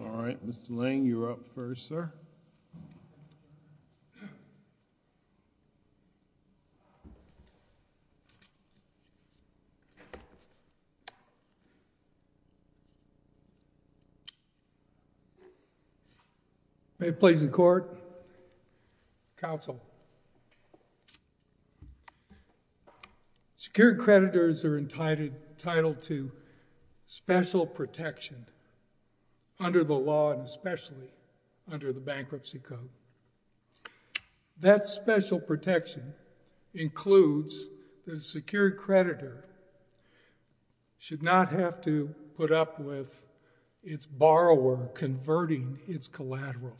All right, Mr. Lang, you're up first, sir. May it please the court, counsel. Secured creditors are entitled to special protection under the law and especially under the Bankruptcy Code. That special protection includes that a secured creditor should not have to put up with its borrower converting its collateral,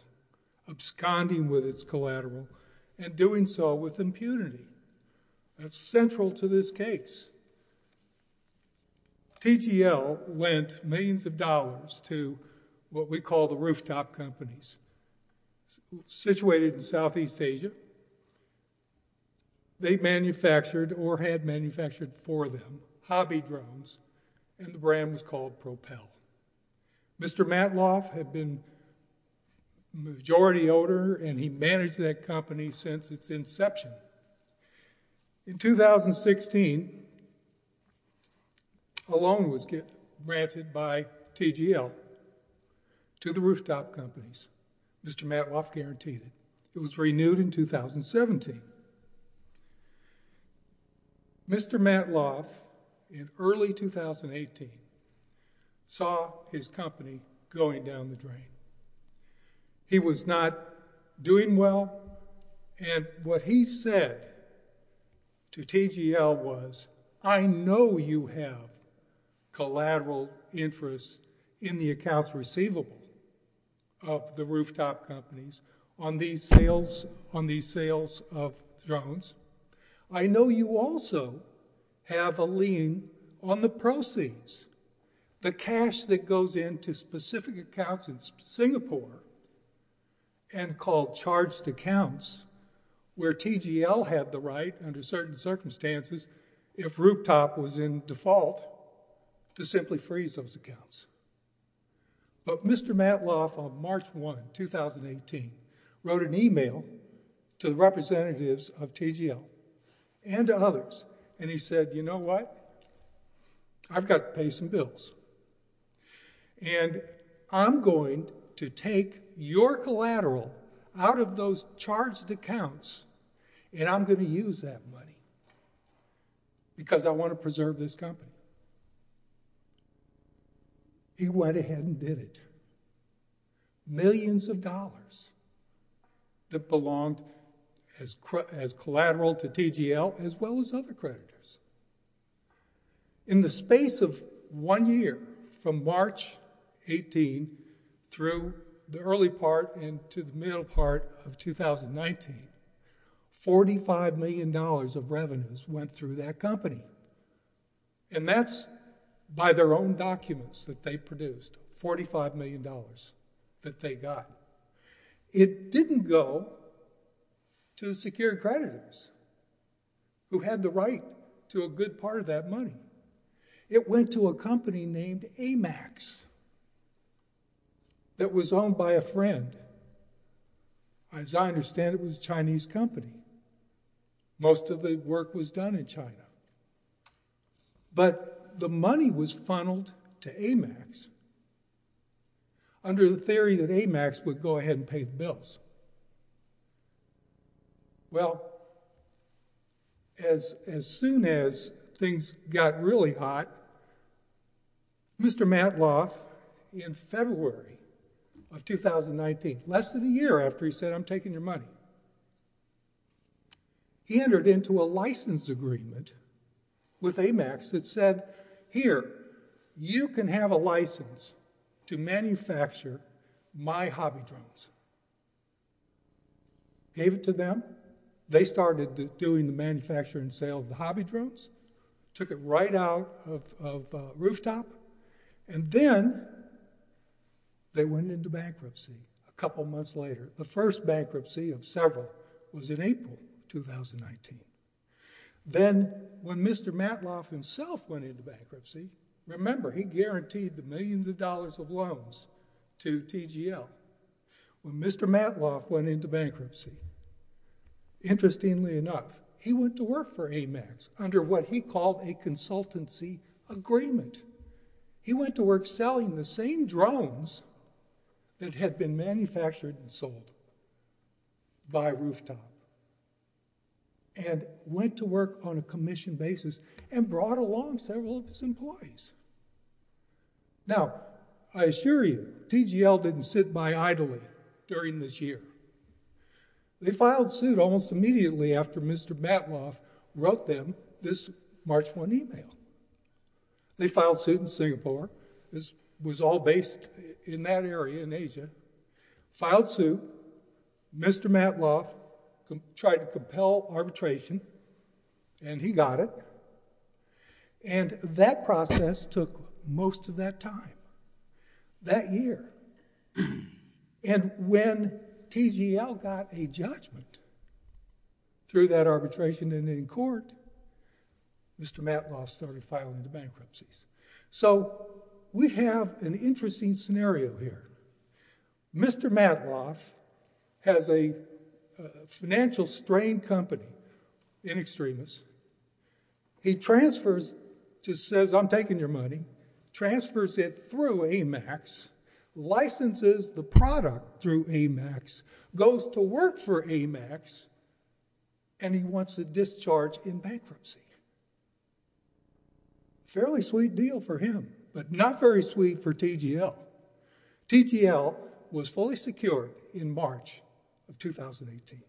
absconding with its collateral, and doing so with impunity. That's central to this case. TGL lent millions of dollars to what we call the rooftop companies, situated in Southeast Asia. They manufactured, or had manufactured for them, hobby drones, and the brand was called Propel. Mr. Matloff had been a majority owner, and he managed that company since its inception. In 2016, a loan was granted by TGL to the rooftop companies, Mr. Matloff guaranteed it. It was renewed in 2017. Mr. Matloff, in early 2018, saw his company going down the drain. He was not doing well, and what he said to TGL was, I know you have collateral interest in the accounts receivable of the rooftop companies on these sales of drones. I know you also have a lien on the proceeds. The cash that goes into specific accounts in Singapore, and called charged accounts, where TGL had the right, under certain circumstances, if rooftop was in default, to simply freeze those accounts. But Mr. Matloff, on March 1, 2018, wrote an email to the representatives of TGL, and to others, and he said, you know what? I've got to pay some bills, and I'm going to take your collateral out of those charged accounts, and I'm going to use that money, because I want to preserve this company. He went ahead and did it, millions of dollars that belonged as collateral to TGL, as well as other creditors. In the space of one year, from March 18, through the early part, and to the middle part of 2019, $45 million of revenues went through that company, and that's by their own documents that they produced, $45 million that they got. It didn't go to the secure creditors, who had the right to a good part of that money. It went to a company named AMAX, that was owned by a friend. As I understand, it was a Chinese company. Most of the work was done in China, but the money was funneled to AMAX, under the theory that AMAX would go ahead and pay the bills. Well, as soon as things got really hot, Mr. Matloff, in February of 2019, less than a year after he said, I'm taking your money, entered into a license agreement with AMAX that said, here, you can have a license to manufacture my hobby drones. Gave it to them, they started doing the manufacturing and sale of the hobby drones, took it right out of the rooftop, and then they went into bankruptcy a couple months later. The first bankruptcy of several was in April 2019. Then, when Mr. Matloff himself went into bankruptcy, remember, he guaranteed the millions of dollars of loans to TGL. When Mr. Matloff went into bankruptcy, interestingly enough, he went to work for AMAX, under what he called a consultancy agreement. He went to work selling the same drones that had been manufactured and sold by rooftop, and went to work on a commission basis, and brought along several of his employees. Now, I assure you, TGL didn't sit by idly during this year. They filed suit almost immediately after Mr. Matloff wrote them this March 1 email. They filed suit in Singapore. This was all based in that area, in Asia. Filed suit, Mr. Matloff tried to compel arbitration, and he got it. And that process took most of that time, that year. And when TGL got a judgment through that arbitration, and in court, Mr. Matloff started filing the bankruptcies. So we have an interesting scenario here. Mr. Matloff has a financial strain company in Extremis. He transfers, just says, I'm taking your money, transfers it through AMAX, licenses the product through AMAX, goes to work for AMAX, and he wants to discharge in bankruptcy. Fairly sweet deal for him, but not very sweet for TGL. TGL was fully secure in March of 2018.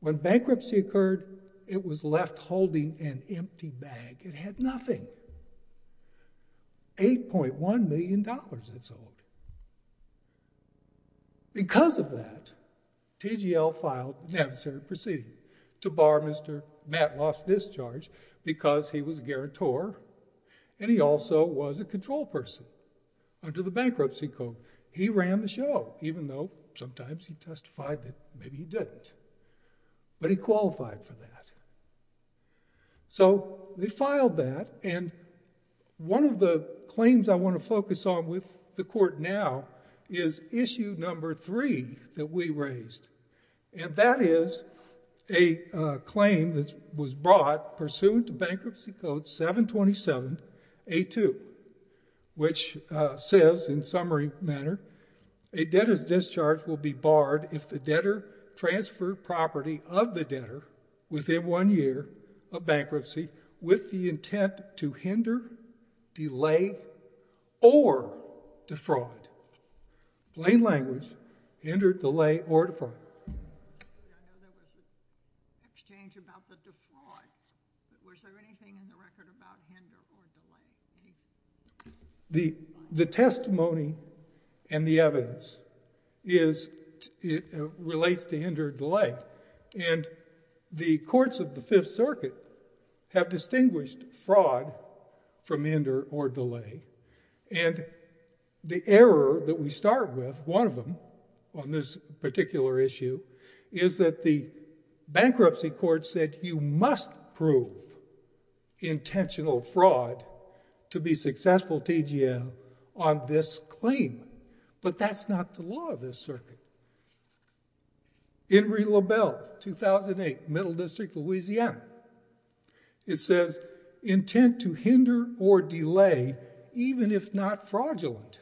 When bankruptcy occurred, it was left holding an empty bag. It had nothing. $8.1 million it sold. Because of that, TGL filed an emissary proceeding to bar Mr. Matloff's discharge, because he was a guarantor, and he also was a control person. Under the bankruptcy code, he ran the show, even though sometimes he testified that maybe he didn't, but he qualified for that. So they filed that, and one of the claims I want to focus on with the court now is issue number three that we raised. And that is a claim that was brought pursuant to bankruptcy code 727A2, which says, in summary manner, a debtor's discharge will be barred if the debtor transferred property of the debtor within one year of bankruptcy with the intent to hinder, delay, or defraud. Plain language, hinder, delay, or defraud. I know there was an exchange about the defraud, but was there anything in the record about hinder or delay? The testimony and the evidence relates to hinder or delay. And the courts of the Fifth Circuit have distinguished fraud from hinder or delay. And the error that we start with, one of them on this particular issue, is that the bankruptcy court said you must prove intentional fraud to be successful TGL on this claim. But that's not the law of this circuit. In re LaBelle, 2008, Middle District, Louisiana, it says, intent to hinder or delay, even if not fraudulent,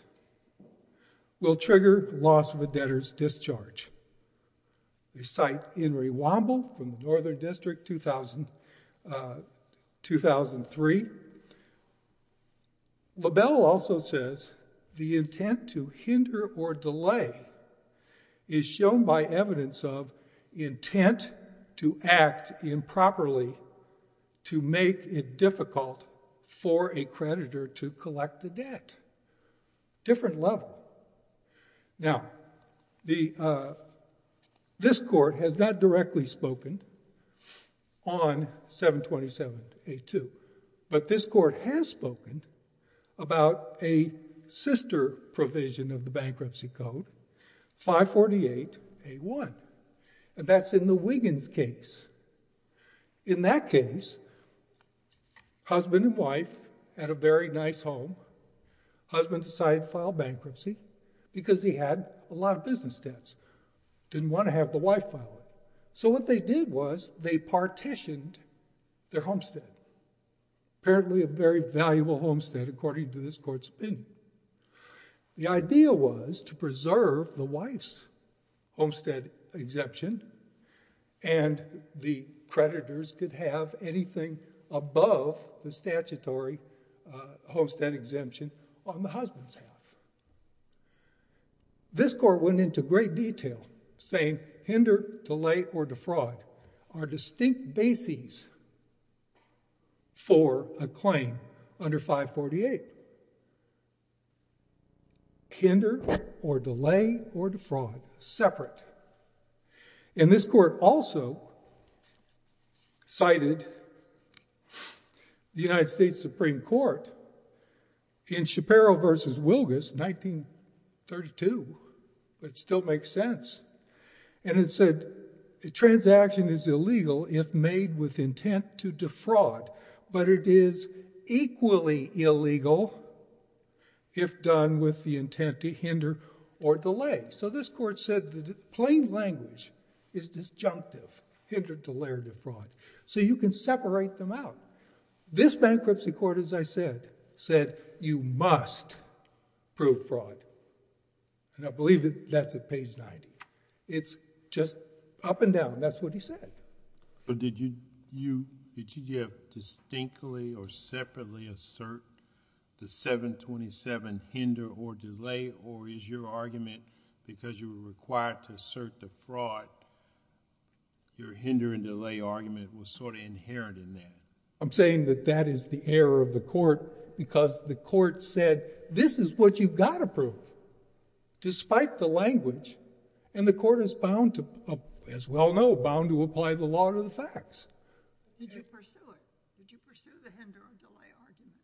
will trigger loss of a debtor's discharge. We cite Henry Womble from the Northern District, 2003. LaBelle also says, the intent to hinder or delay is shown by evidence of intent to act improperly to make it difficult for a creditor to collect the debt. Different level. Now, this court has not directly spoken on 727A2. But this court has spoken about a sister provision of the bankruptcy code, 548A1. And that's in the Wiggins case. In that case, husband and wife had a very nice home. Husband decided to file bankruptcy because he had a lot of business debts. Didn't want to have the wife file it. So what they did was they partitioned their homestead. Apparently a very valuable homestead, according to this court's opinion. The idea was to preserve the wife's homestead exemption. And the creditors could have anything above the statutory homestead exemption on the husband's half. This court went into great detail, saying, hinder, delay, or defraud are distinct bases for a claim under 548. Hinder, or delay, or defraud, separate. And this court also cited the United States Supreme Court in Shapiro versus Wilgus, 1932, but it still makes sense. And it said, a transaction is illegal if made with intent to defraud. But it is equally illegal if done with the intent to hinder or delay. So this court said that plain language is disjunctive. Hinder, delay, or defraud. So you can separate them out. This bankruptcy court, as I said, said, you must prove fraud. And I believe that's at page 90. It's just up and down. That's what he said. But did you have distinctly or separately assert the 727, hinder or delay? Or is your argument, because you were required to assert the fraud, your hinder and delay argument was sort of inherent in that? I'm saying that that is the error of the court, because the court said, this is what you've got to prove, despite the language. And the court is bound to, as we all know, bound to apply the law to the facts. Did you pursue it? Did you pursue the hinder or delay argument?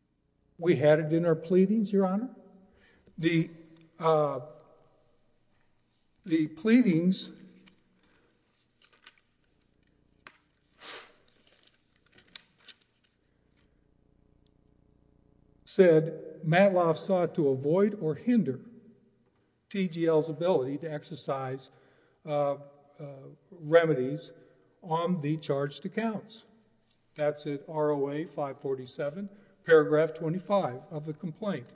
We had it in our pleadings, Your Honor. The pleadings said, Matloff sought to avoid or hinder TGL's ability to exercise remedies on the charged accounts. That's at ROA 547, paragraph 25 of the complaint.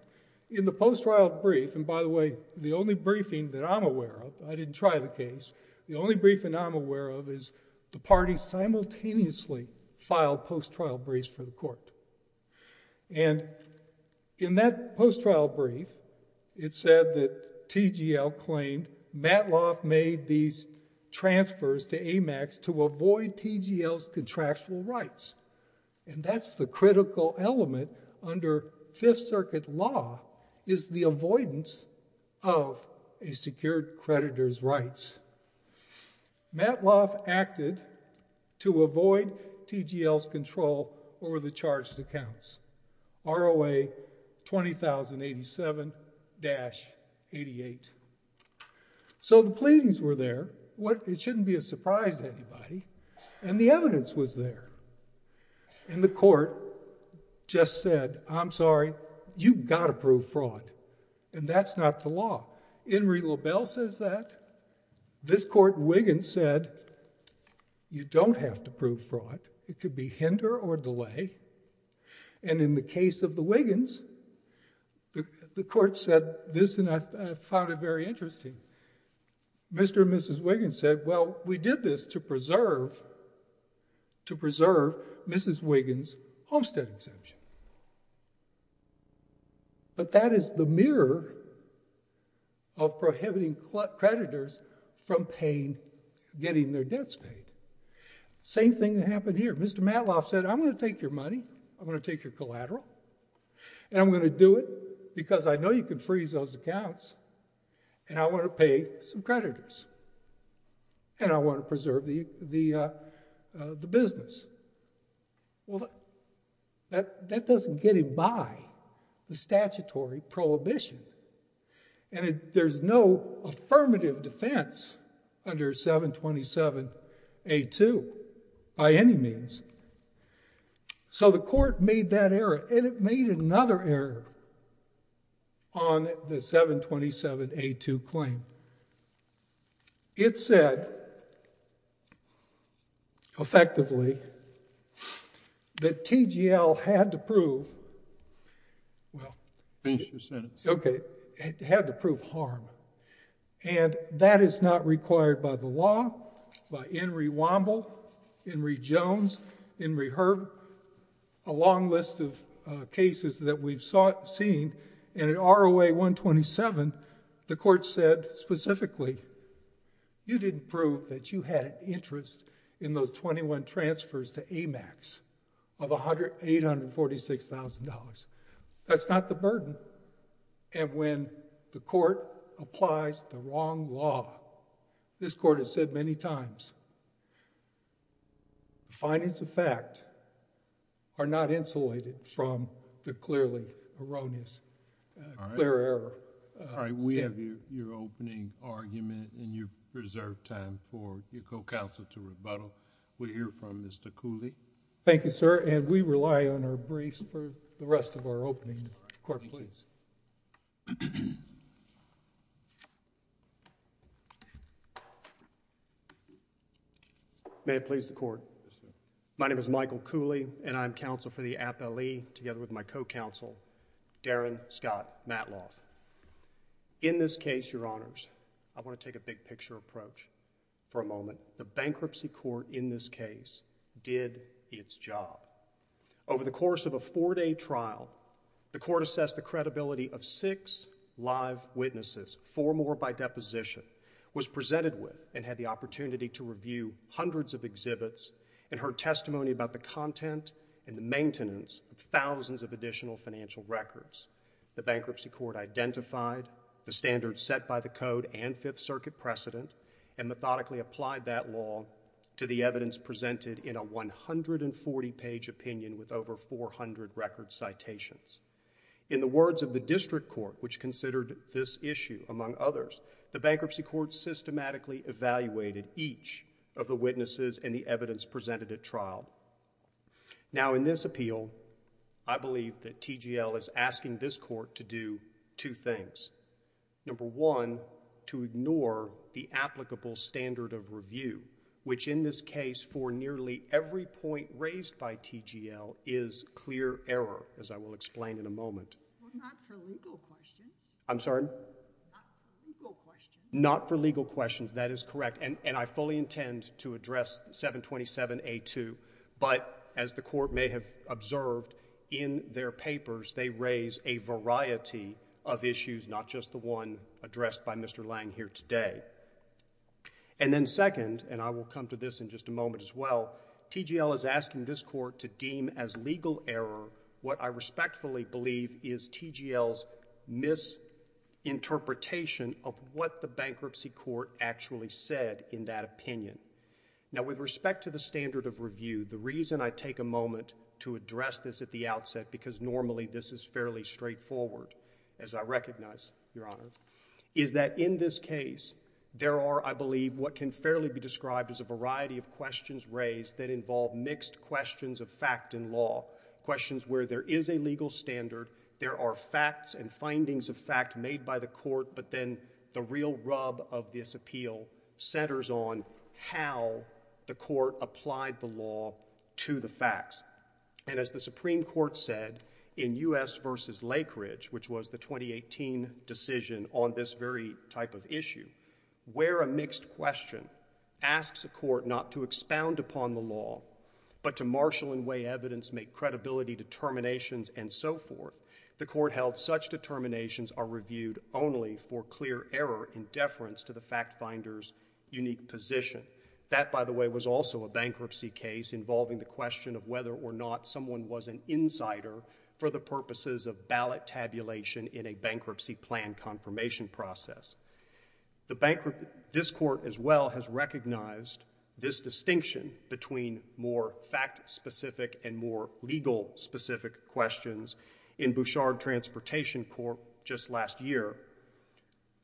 In the post-trial brief, and by the way, the only briefing that I'm aware of, I didn't try the case, the only briefing I'm aware of is the parties simultaneously filed post-trial briefs for the court. And in that post-trial brief, it said that TGL claimed Matloff made these transfers to AMAX to avoid TGL's contractual rights. And that's the critical element under Fifth Circuit law, is the avoidance of a secured creditor's rights. Matloff acted to avoid TGL's control over the charged accounts. ROA 20,087-88. So the pleadings were there. It shouldn't be a surprise to anybody. And the evidence was there. And the court just said, I'm sorry, you've got to prove fraud. And that's not the law. In re LaBelle says that. This court Wiggins said, you don't have to prove fraud. It could be hinder or delay. And in the case of the Wiggins, the court said this, and I found it very interesting. Mr. and Mrs. Wiggins said, well, we did this to preserve, to preserve Mrs. Wiggins' homestead exemption. But that is the mirror of prohibiting creditors from getting their debts paid. Same thing that happened here. Mr. Matloff said, I'm going to take your money. I'm going to take your collateral. And I'm going to do it because I know you can freeze those accounts. And I want to pay some creditors. And I want to preserve the business. Well, that doesn't get him by the statutory prohibition. And there's no affirmative defense under 727A2 by any means. So the court made that error. And it made another error on the 727A2 claim. It said, effectively, that TGL had to prove, well. Finish your sentence. OK, it had to prove harm. And that is not required by the law, by Henry Womble, Henry Jones, Henry Herb, a long list of cases that we've seen. And in ROA 127, the court said specifically, you didn't prove that you had an interest in those 21 transfers to AMAX of $846,000. That's not the burden. And when the court applies the wrong law, this court has said many times, the findings of fact are not insulated from the clearly erroneous, clear error. All right, we have your opening argument and your reserved time for your co-counsel to rebuttal. We'll hear from Mr. Cooley. Thank you, sir. And we rely on our briefs for the rest of our opening. Court, please. May it please the court. My name is Michael Cooley, and I'm counsel for the appellee, together with my co-counsel, Darren Scott Matloff. In this case, your honors, I want to take a big picture approach for a moment. The bankruptcy court in this case did its job. Over the course of a four-day trial, the court assessed the credibility of six live witnesses, four more by deposition, was presented with, and had the opportunity to review hundreds of exhibits and heard testimony about the content and the maintenance of thousands of additional financial records. The bankruptcy court identified the standards set by the code and Fifth Circuit precedent and methodically applied that law to the evidence presented in a 140-page opinion with over 400 record citations. In the words of the district court, which considered this issue among others, the bankruptcy court systematically evaluated each of the witnesses and the evidence presented at trial. Now, in this appeal, I believe that TGL is asking this court to do two things. Number one, to ignore the applicable standard of review, which in this case, for nearly every point raised by TGL, is clear error, as I will explain in a moment. Well, not for legal questions. I'm sorry? Not for legal questions. Not for legal questions, that is correct. And I fully intend to address 727A2. But as the court may have observed in their papers, they raise a variety of issues, not just the one addressed by Mr. Lang here today. And then second, and I will come to this in just a moment as well, TGL is asking this court to deem as legal error what I respectfully believe is TGL's misinterpretation of what the bankruptcy court actually said in that opinion. Now, with respect to the standard of review, the reason I take a moment to address this at the outset, because normally this is fairly straightforward, as I recognize, Your Honor, is that in this case, there are, I believe, what can fairly be described as a variety of questions raised that involve mixed questions of fact and law, questions where there is a legal standard, there are facts and findings of fact made by the court, but then the real rub of this appeal centers on how the court applied the law to the facts. And as the Supreme Court said in U.S. versus Lakeridge, which was the 2018 decision on this very type of issue, where a mixed question asks a court not to expound upon the law, but to marshal and weigh evidence, make credibility determinations, and so forth, the court held such determinations are reviewed only for clear error in deference to the fact finder's unique position. That, by the way, was also a bankruptcy case involving the question of whether or not someone was an insider for the purposes of ballot tabulation in a bankruptcy plan confirmation process. This court, as well, has recognized this distinction between more fact-specific and more legal-specific questions. In Bouchard Transportation Court just last year,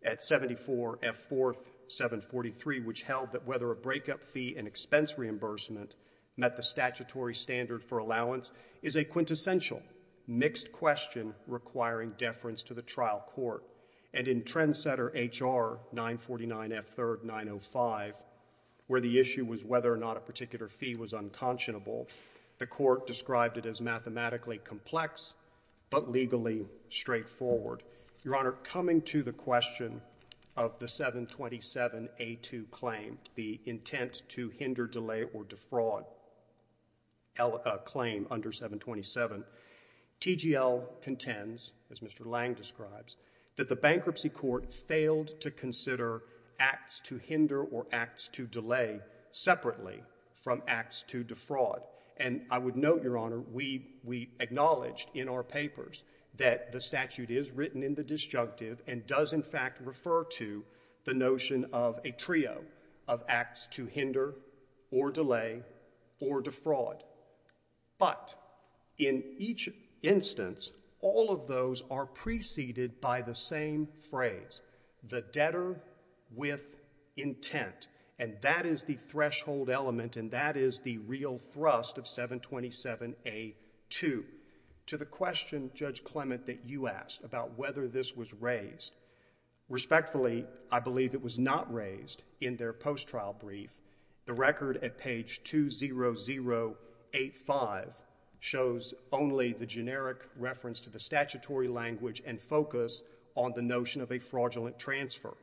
at 74 F 4th 743, which held that whether a breakup fee and expense reimbursement met the statutory standard for allowance is a quintessential mixed question requiring deference to the trial court. And in Trendsetter HR 949 F 3rd 905, where the issue was whether or not a particular fee was unconscionable, the court described it as mathematically complex, but legally straightforward. Your Honor, coming to the question of the 727 A2 claim, the intent to hinder, delay, or defraud claim under 727, TGL contends, as Mr. Lang describes, that the bankruptcy court failed to consider acts to hinder or acts to delay separately from acts to defraud. And I would note, Your Honor, we acknowledged in our papers that the statute is written in the disjunctive and does, in fact, refer to the notion of a trio of acts to hinder or delay or defraud. But in each instance, all of those are preceded by the same phrase, the debtor with intent. And that is the threshold element, and that is the real thrust of 727 A2. To the question, Judge Clement, that you asked about whether this was raised, respectfully, I believe it was not raised in their post-trial brief. The record at page 20085 shows only the generic reference to the statutory language and focus on the notion of a fraudulent transfer.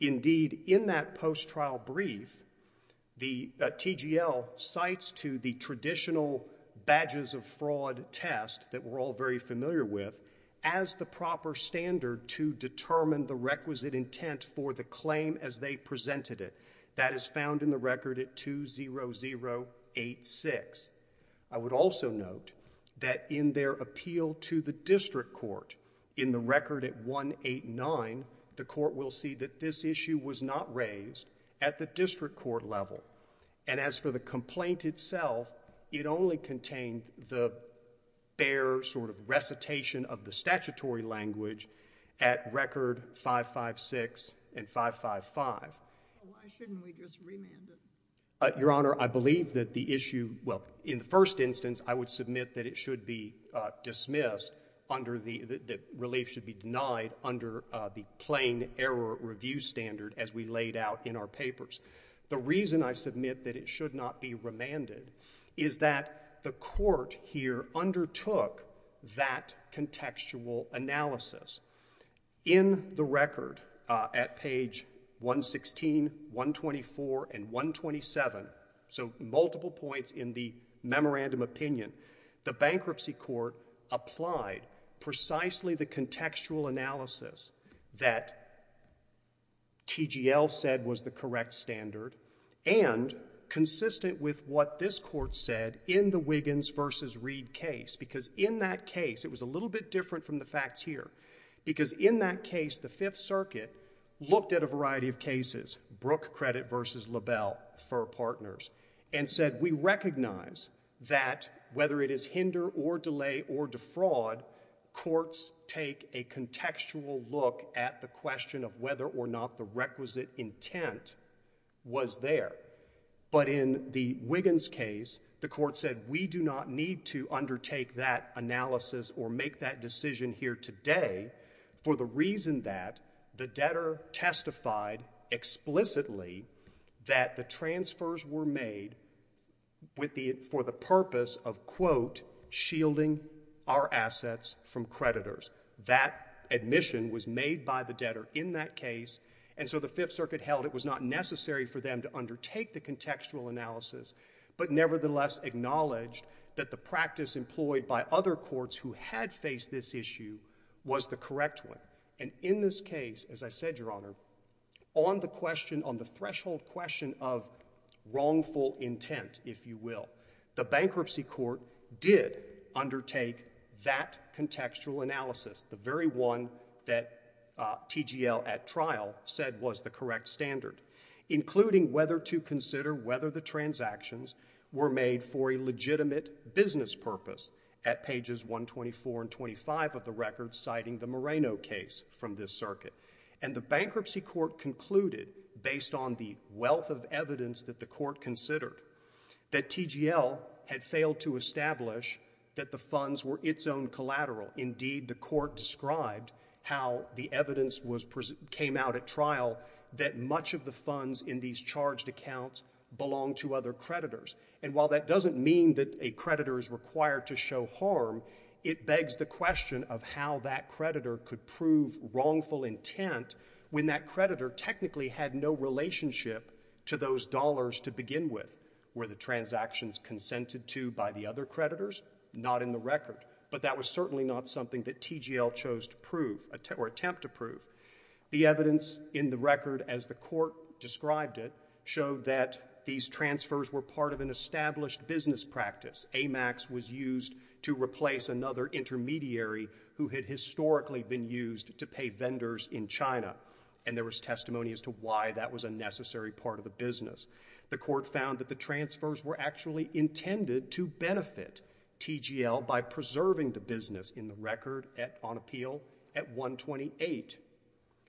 Indeed, in that post-trial brief, the TGL cites to the traditional badges of fraud test that we're all very familiar with as the proper standard to determine the requisite intent for the claim as they presented it. That is found in the record at 20086. I would also note that in their appeal to the district court, in the record at 189, the court will see that this issue was not raised at the district court level. And as for the complaint itself, it only contained the bare sort of recitation of the statutory language at record 556 and 555. Why shouldn't we just remand it? Your Honor, I believe that the issue, well, in the first instance, I would submit that it should be dismissed under the relief should be denied under the plain error review standard as we laid out in our papers. The reason I submit that it should not be remanded is that the court here undertook that contextual analysis. In the record at page 116, 124, and 127, so multiple points in the memorandum opinion, the bankruptcy court applied precisely the contextual analysis that TGL said was the correct standard and consistent with what this court said in the Wiggins versus Reed case. Because in that case, it was a little bit different from the facts here. Because in that case, the Fifth Circuit looked at a variety of cases, Brooke Credit versus LaBelle for partners, and said, we recognize that whether it is hinder or delay or defraud, courts take a contextual look at the question of whether or not the requisite intent was there. But in the Wiggins case, the court said we do not need to undertake that analysis or make that decision here today for the reason that the debtor testified explicitly that the transfers were made for the purpose of, quote, shielding our assets from creditors. That admission was made by the debtor in that case. And so the Fifth Circuit held it was not necessary for them to undertake the contextual analysis, but nevertheless acknowledged that the practice employed by other courts who had faced this issue was the correct one. And in this case, as I said, Your Honor, on the threshold question of wrongful intent, if you will, the bankruptcy court did undertake that contextual analysis, the very one that TGL at trial said was the correct standard, including whether to consider whether the transactions were made for a legitimate business purpose at pages 124 and 25 of the record, citing the Moreno case from this circuit. And the bankruptcy court concluded, based on the wealth of evidence that the court considered, that TGL had failed to establish that the funds were its own collateral. Indeed, the court described how the evidence came out at trial that much of the funds in these charged accounts belong to other creditors. And while that doesn't mean that a creditor is required to show harm, it begs the question of how that creditor could prove wrongful intent when that creditor technically had no relationship to those dollars to begin with. Were the transactions consented to by the other creditors? Not in the record. But that was certainly not something that TGL chose to prove or attempt to prove. The evidence in the record, as the court described it, showed that these transfers were part of an established business practice. AMAX was used to replace another intermediary who had historically been used to pay vendors in China. And there was testimony as to why that was a necessary part of the business. The court found that the transfers were actually intended to benefit TGL by preserving the business in the record on appeal at 128,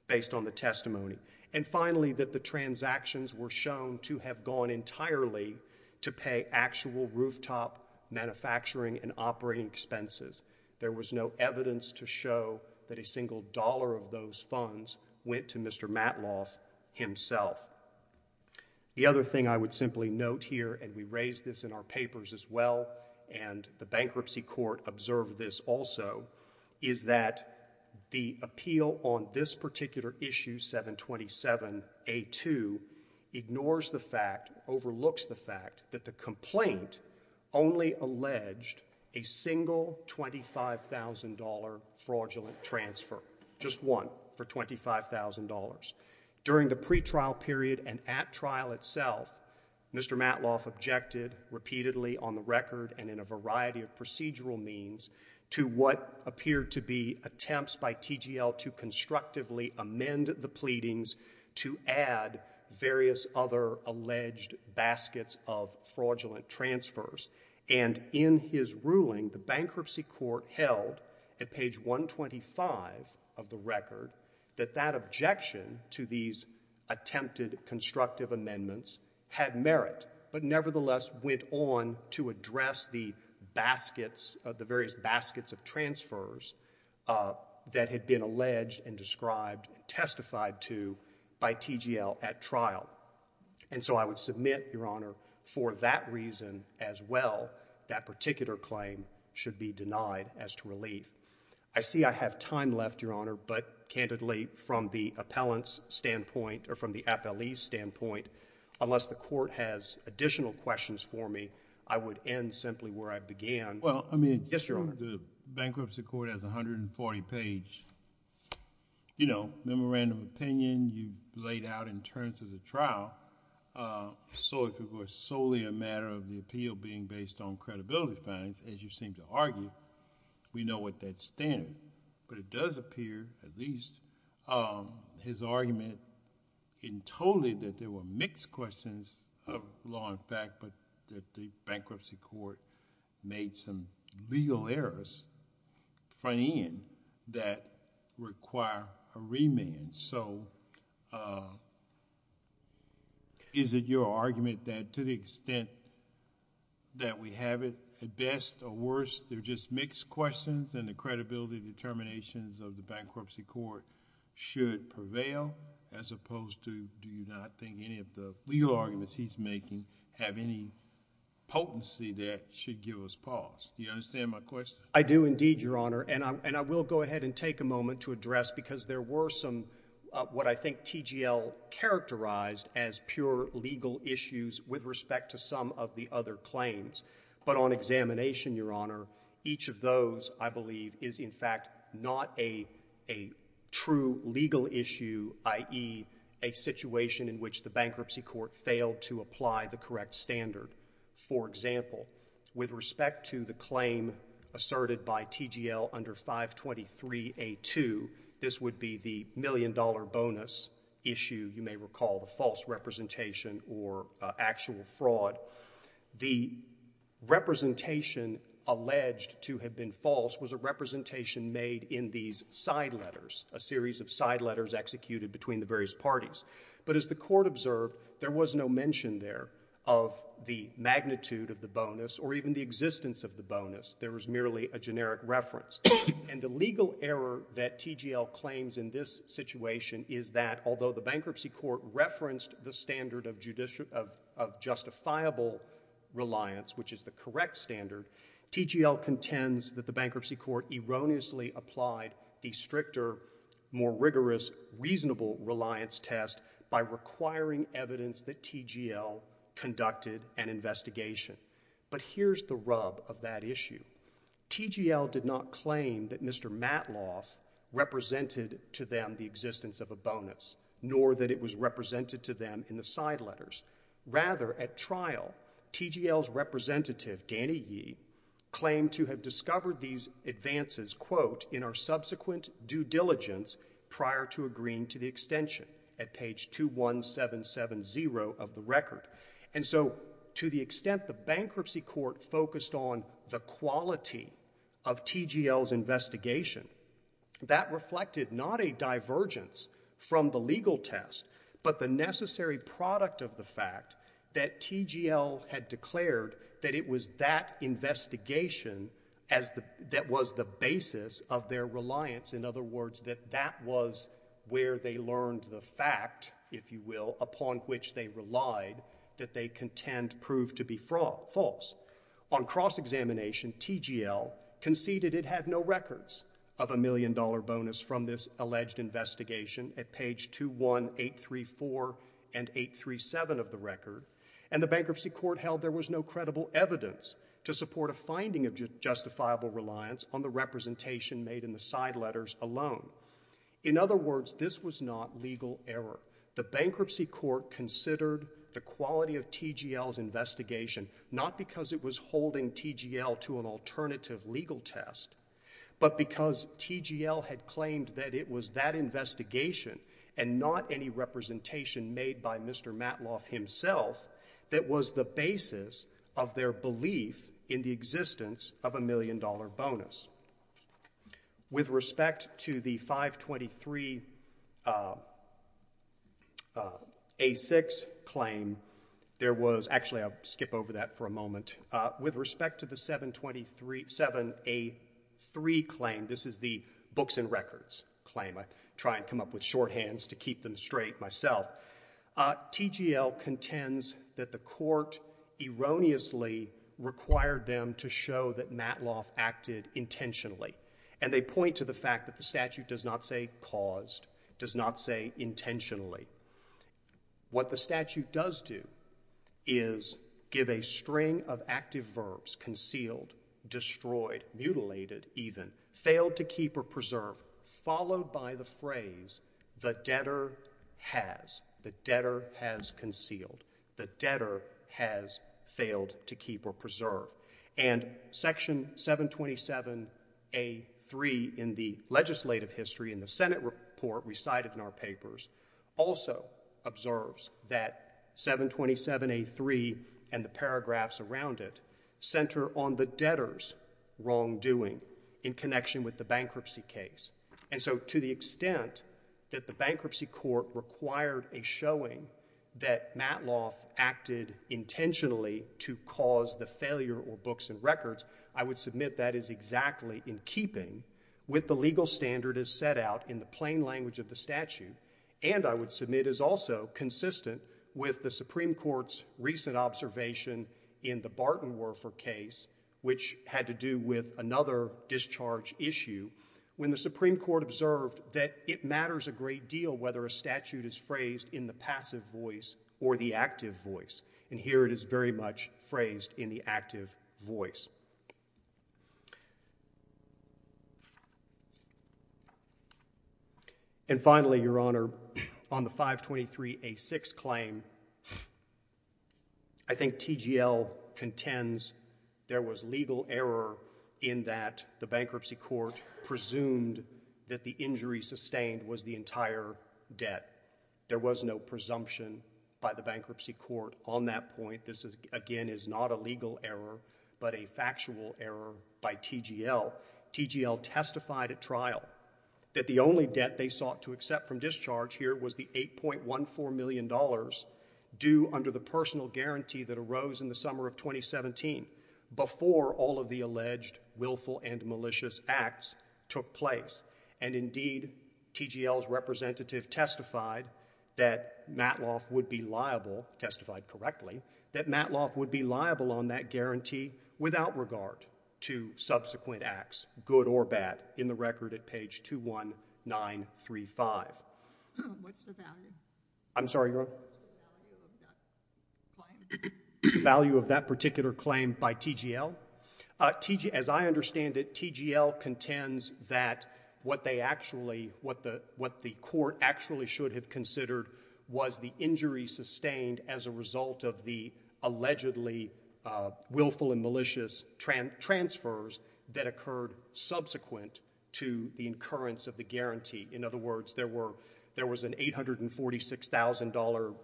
based on the testimony. And finally, that the transactions were shown to have gone entirely to pay actual rooftop manufacturing and operating expenses. There was no evidence to show that a single dollar of those funds went to Mr. Matloff himself. The other thing I would simply note here, and we raised this in our papers as well, and the bankruptcy court observed this also, is that the appeal on this particular issue, 727A2, ignores the fact, overlooks the fact, that the complaint only alleged a single $25,000 fraudulent transfer. Just one for $25,000. During the pretrial period and at trial itself, Mr. Matloff objected repeatedly on the record and in a variety of procedural means to what appeared to be attempts by TGL to constructively amend the pleadings to add various other alleged baskets of fraudulent transfers. And in his ruling, the bankruptcy court held, at page 125 of the record, that that objection to these attempted constructive amendments had merit, but nevertheless went on to address the various baskets of transfers that had been alleged and described, testified to, by TGL at trial. And so I would submit, Your Honor, for that reason as well, that particular claim should be denied as to relief. I see I have time left, Your Honor, but candidly, from the appellant's standpoint, or from the appellee's standpoint, unless the court has additional questions for me, I would end simply where I began. Well, I mean, the bankruptcy court has 140 page memorandum of opinion you laid out in terms of the trial. So if it was solely a matter of the appeal being based on credibility findings, as you seem to argue, we know what that's standard. But it does appear, at least, his argument in totally that there were mixed questions of law and fact, but that the bankruptcy court made some legal errors front end that require a remand. So is it your argument that to the extent that we have it, at best or worst, they're just mixed questions? And the credibility determinations of the bankruptcy court should prevail, as opposed to, do you not think any of the legal arguments he's making have any potency that should give us pause? Do you understand my question? I do, indeed, Your Honor. And I will go ahead and take a moment to address, because there were some what I think TGL characterized as pure legal issues with respect to some of the other claims. But on examination, Your Honor, each of those, I believe, is, in fact, not a true legal issue, i.e. a situation in which the bankruptcy court failed to apply the correct standard. For example, with respect to the claim asserted by TGL under 523A2, this would be the million-dollar bonus issue. You may recall the false representation or actual fraud. The representation alleged to have been false was a representation made in these side letters, a series of side letters executed between the various parties. But as the court observed, there was no mention there of the magnitude of the bonus or even the existence of the bonus. There was merely a generic reference. And the legal error that TGL claims in this situation is that, although the bankruptcy court referenced the standard of justifiable reliance, which is the correct standard, TGL contends that the bankruptcy court erroneously applied the stricter, more rigorous, reasonable reliance test by requiring evidence that TGL conducted an investigation. But here's the rub of that issue. TGL did not claim that Mr. Matloff represented to them the existence of a bonus, nor that it was represented to them in the side letters. Rather, at trial, TGL's representative, Danny Yee, claimed to have discovered these advances, quote, in our subsequent due diligence prior to agreeing to the extension at page 21770 of the record. And so to the extent the bankruptcy court focused on the quality of TGL's investigation, that reflected not a divergence from the legal test, but the necessary product of the fact that TGL had declared that it was that investigation that was the basis of their reliance. In other words, that that was where they learned the fact, if you will, upon which they relied, that they contend proved to be false. On cross-examination, TGL conceded it had no records of a million-dollar bonus from this alleged investigation at page 21834 and 837 of the record, and the bankruptcy court held there was no credible evidence to support a finding of justifiable reliance on the representation made in the side letters alone. In other words, this was not legal error. The bankruptcy court considered the quality of TGL's investigation not because it was holding TGL to an alternative legal test, but because TGL had claimed that it was that investigation, and not any representation made by Mr. Matloff himself, that was the basis of their belief in the existence of a million-dollar bonus. With respect to the 523A6 claim, there was actually I'll skip over that for a moment. With respect to the 7237A3 claim, this is the books and records claim. I try and come up with shorthands to keep them straight myself. TGL contends that the court erroneously required them to show that Matloff acted intentionally. And they point to the fact that the statute does not say caused, does not say intentionally. What the statute does do is give a string of active verbs, concealed, destroyed, mutilated even, failed to keep or preserve, followed by the phrase, the debtor has. The debtor has concealed. The debtor has failed to keep or preserve. And section 727A3 in the legislative history in the Senate report recited in our papers also observes that 727A3 and the paragraphs around it center on the debtor's wrongdoing in connection with the bankruptcy case. And so to the extent that the bankruptcy court required a showing that Matloff acted intentionally to cause the failure or books and records, I would submit that is exactly in keeping with the legal standard as set out in the plain language of the statute. And I would submit is also consistent with the Supreme Court's recent observation in the Barton-Werfer case, which had to do with another discharge issue, when the Supreme Court observed that it matters a great deal whether a statute is phrased in the passive voice or the active voice. And here it is very much phrased in the active voice. And finally, Your Honor, on the 523A6 claim, I think TGL contends there was legal error in that the bankruptcy court presumed that the injury sustained was the entire debt. There was no presumption by the bankruptcy court on that point. This, again, is not a legal error, but a factual error by TGL. TGL testified at trial that the only debt they sought to accept from discharge here was the $8.14 million due under the personal guarantee that arose in the summer of 2017 before all of the alleged willful and malicious acts took place. And indeed, TGL's representative testified that Matloff would be liable, testified correctly, that Matloff would be liable on that guarantee without regard to subsequent acts, good or bad, in the record at page 21935. What's the value? I'm sorry, Your Honor? The value of that claim. Value of that particular claim by TGL? As I understand it, TGL contends that what the court actually should have considered was the injury sustained as a result of the allegedly willful and malicious transfers that occurred subsequent to the occurrence of the guarantee. In other words, there was an $846,000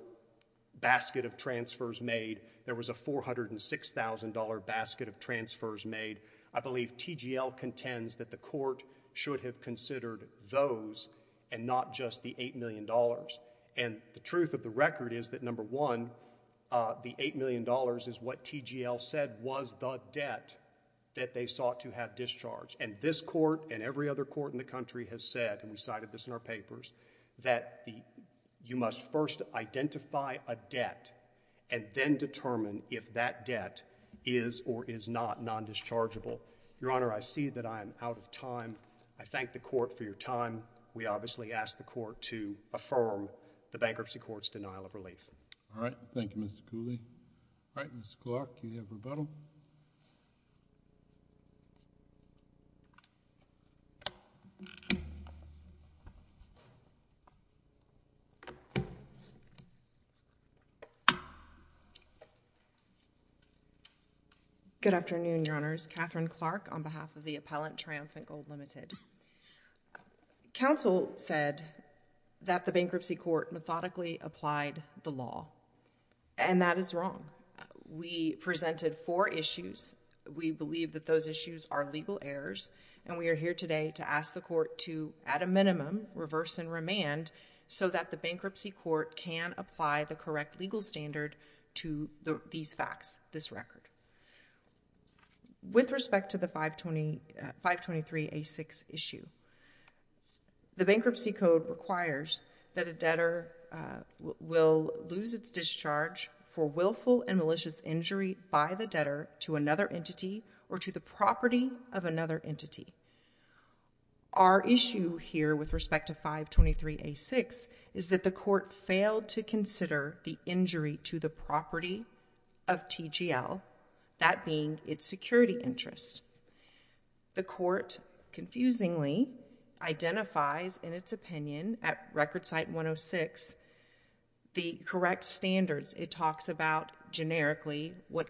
basket of transfers made. There was a $406,000 basket of transfers made. I believe TGL contends that the court should have considered those and not just the $8 million. And the truth of the record is that number one, the $8 million is what TGL said was the debt that they sought to have discharged. And this court and every other court in the country has said, and we cited this in our papers, that you must first identify a debt and then determine if that debt is or is not non-dischargeable. Your Honor, I see that I am out of time. I thank the court for your time. We obviously ask the court to affirm the bankruptcy court's denial of relief. All right, thank you, Mr. Cooley. All right, Mr. Clark, you have rebuttal. Good afternoon, Your Honors. Catherine Clark on behalf of the Appellant Triumphant Gold Limited. Counsel said that the bankruptcy court methodically applied the law. And that is wrong. We presented four issues. We believe that those issues are legal errors. And we are here today to ask the court to, at a minimum, reverse and remand so that the bankruptcy court can apply the correct legal standards for the bankruptcy standard to these facts, this record. With respect to the 523A6 issue, the bankruptcy code requires that a debtor will lose its discharge for willful and malicious injury by the debtor to another entity or to the property of another entity. Our issue here with respect to 523A6 is that the court failed to consider the injury to the property of TGL, that being its security interest. The court confusingly identifies in its opinion at Record Cite 106 the correct standards. It talks about, generically, what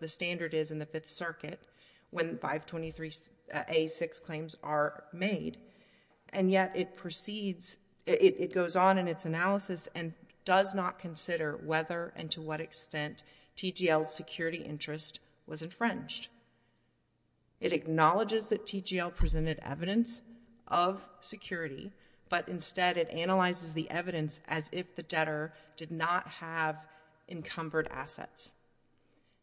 the standard is in the Fifth Circuit when 523A6 claims are made. And yet, it proceeds, it goes on in its analysis and does not consider whether and to what extent TGL's security interest was infringed. It acknowledges that TGL presented evidence of security. But instead, it analyzes the evidence as if the debtor did not have encumbered assets.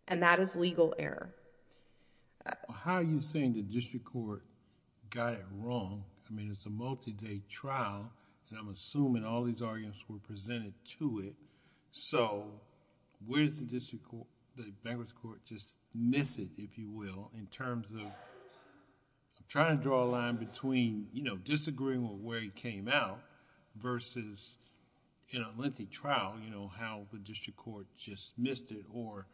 And that is legal error. How are you saying the district court got it wrong? I mean, it's a multi-day trial and I'm assuming all these arguments were presented to it. So where does the district court, the bankruptcy court just miss it, if you will, in terms of trying to draw a line between disagreeing with where it came out versus in a lengthy trial, how the district court just missed it for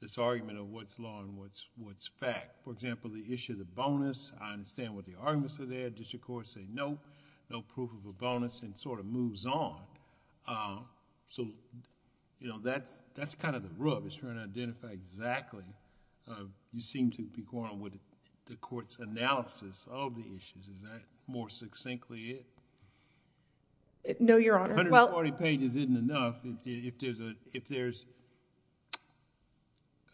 this argument of what's law and what's fact? For example, the issue of the bonus, I understand what the arguments are there. District court said, no, no proof of a bonus and sort of moves on. So that's kind of the rub. It's trying to identify exactly. You seem to be going with the court's analysis of the issues. Is that more succinctly it? No, Your Honor. 140 pages isn't enough. If there's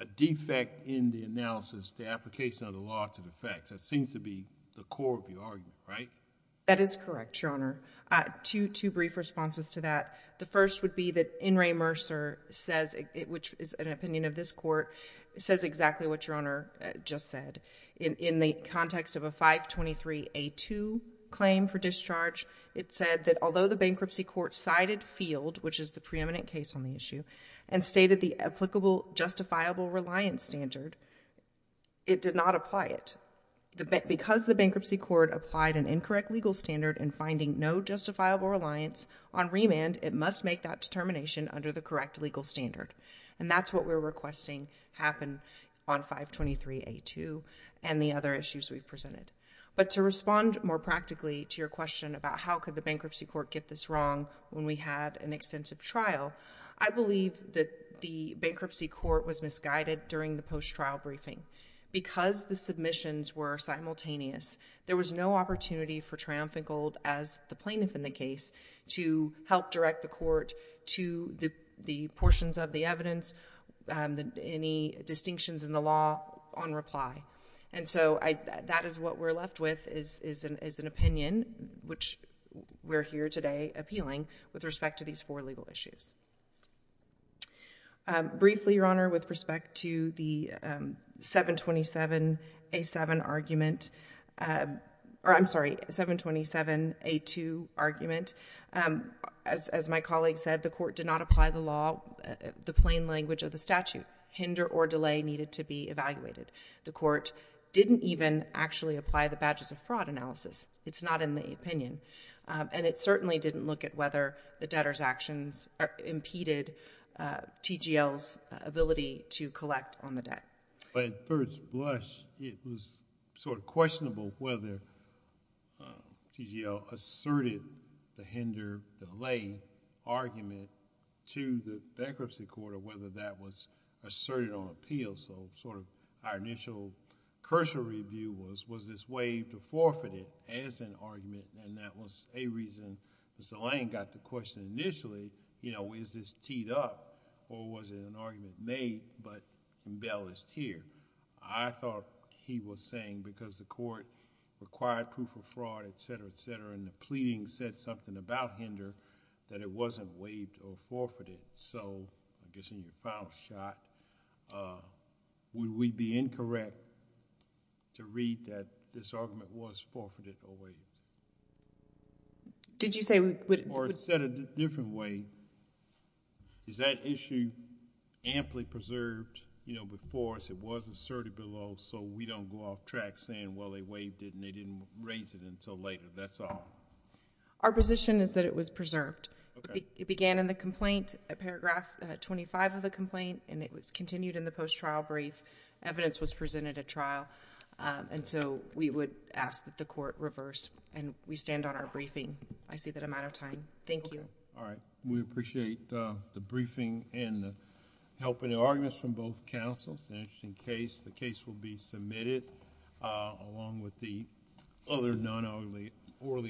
a defect in the analysis, the application of the law to the facts, that seems to be the core of the argument, right? That is correct, Your Honor. Two brief responses to that. The first would be that N. Ray Mercer says, which is an opinion of this court, says exactly what Your Honor just said. In the context of a 523A2 claim for discharge, it said that although the bankruptcy court cited field, which is the preeminent case on the issue, and stated the applicable justifiable reliance standard, it did not apply it. Because the bankruptcy court applied an incorrect legal standard in finding no justifiable reliance on remand, it must make that determination under the correct legal standard. And that's what we're requesting happen on 523A2 and the other issues we've presented. But to respond more practically to your question about how could the bankruptcy court get this wrong when we had an extensive trial, I believe that the bankruptcy court was misguided during the post-trial briefing. Because the submissions were simultaneous, there was no opportunity for Triumphant Gold, as the plaintiff in the case, to help direct the court to the portions of the evidence, any distinctions in the law, on reply. And so that is what we're left with, is an opinion, which we're here today appealing, with respect to these four legal issues. Briefly, Your Honor, with respect to the 727A2 argument, as my colleague said, the court did not apply the plain language of the statute. Hinder or delay needed to be evaluated. The court didn't even actually apply the badges of fraud analysis. It's not in the opinion. And it certainly didn't look at whether the debtor's actions impeded TGL's ability to collect on the debt. But at first blush, it was sort of questionable whether TGL asserted the hinder delay argument to the bankruptcy court, or whether that was asserted on appeal. So our initial cursory view was, was this waived or forfeited as an argument? And that was a reason Mr. Lane got the question initially, is this teed up, or was it an argument made, but embellished here? I thought he was saying, because the court required proof of fraud, et cetera, et cetera, and the pleading said something about hinder, that it wasn't waived or forfeited. So I guess in your final shot, would we be incorrect to read that this argument was forfeited or waived? Did you say we would? Or said it a different way, is that issue amply preserved before us? It was asserted below, so we don't go off track saying, well, they waived it, and they didn't raise it until later. That's all. Our position is that it was preserved. It began in the complaint, paragraph 25 of the complaint, and it was continued in the post-trial brief. Evidence was presented at trial, and so we would ask that the court reverse, and we stand on our briefing. I see that I'm out of time. Thank you. All right. We appreciate the briefing and helping the arguments from both counsels. It's an interesting case. The case will be submitted along with the other non-orally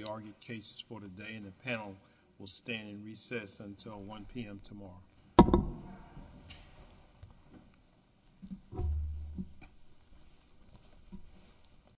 argued cases for today, and the panel will stand in recess until 1 PM tomorrow.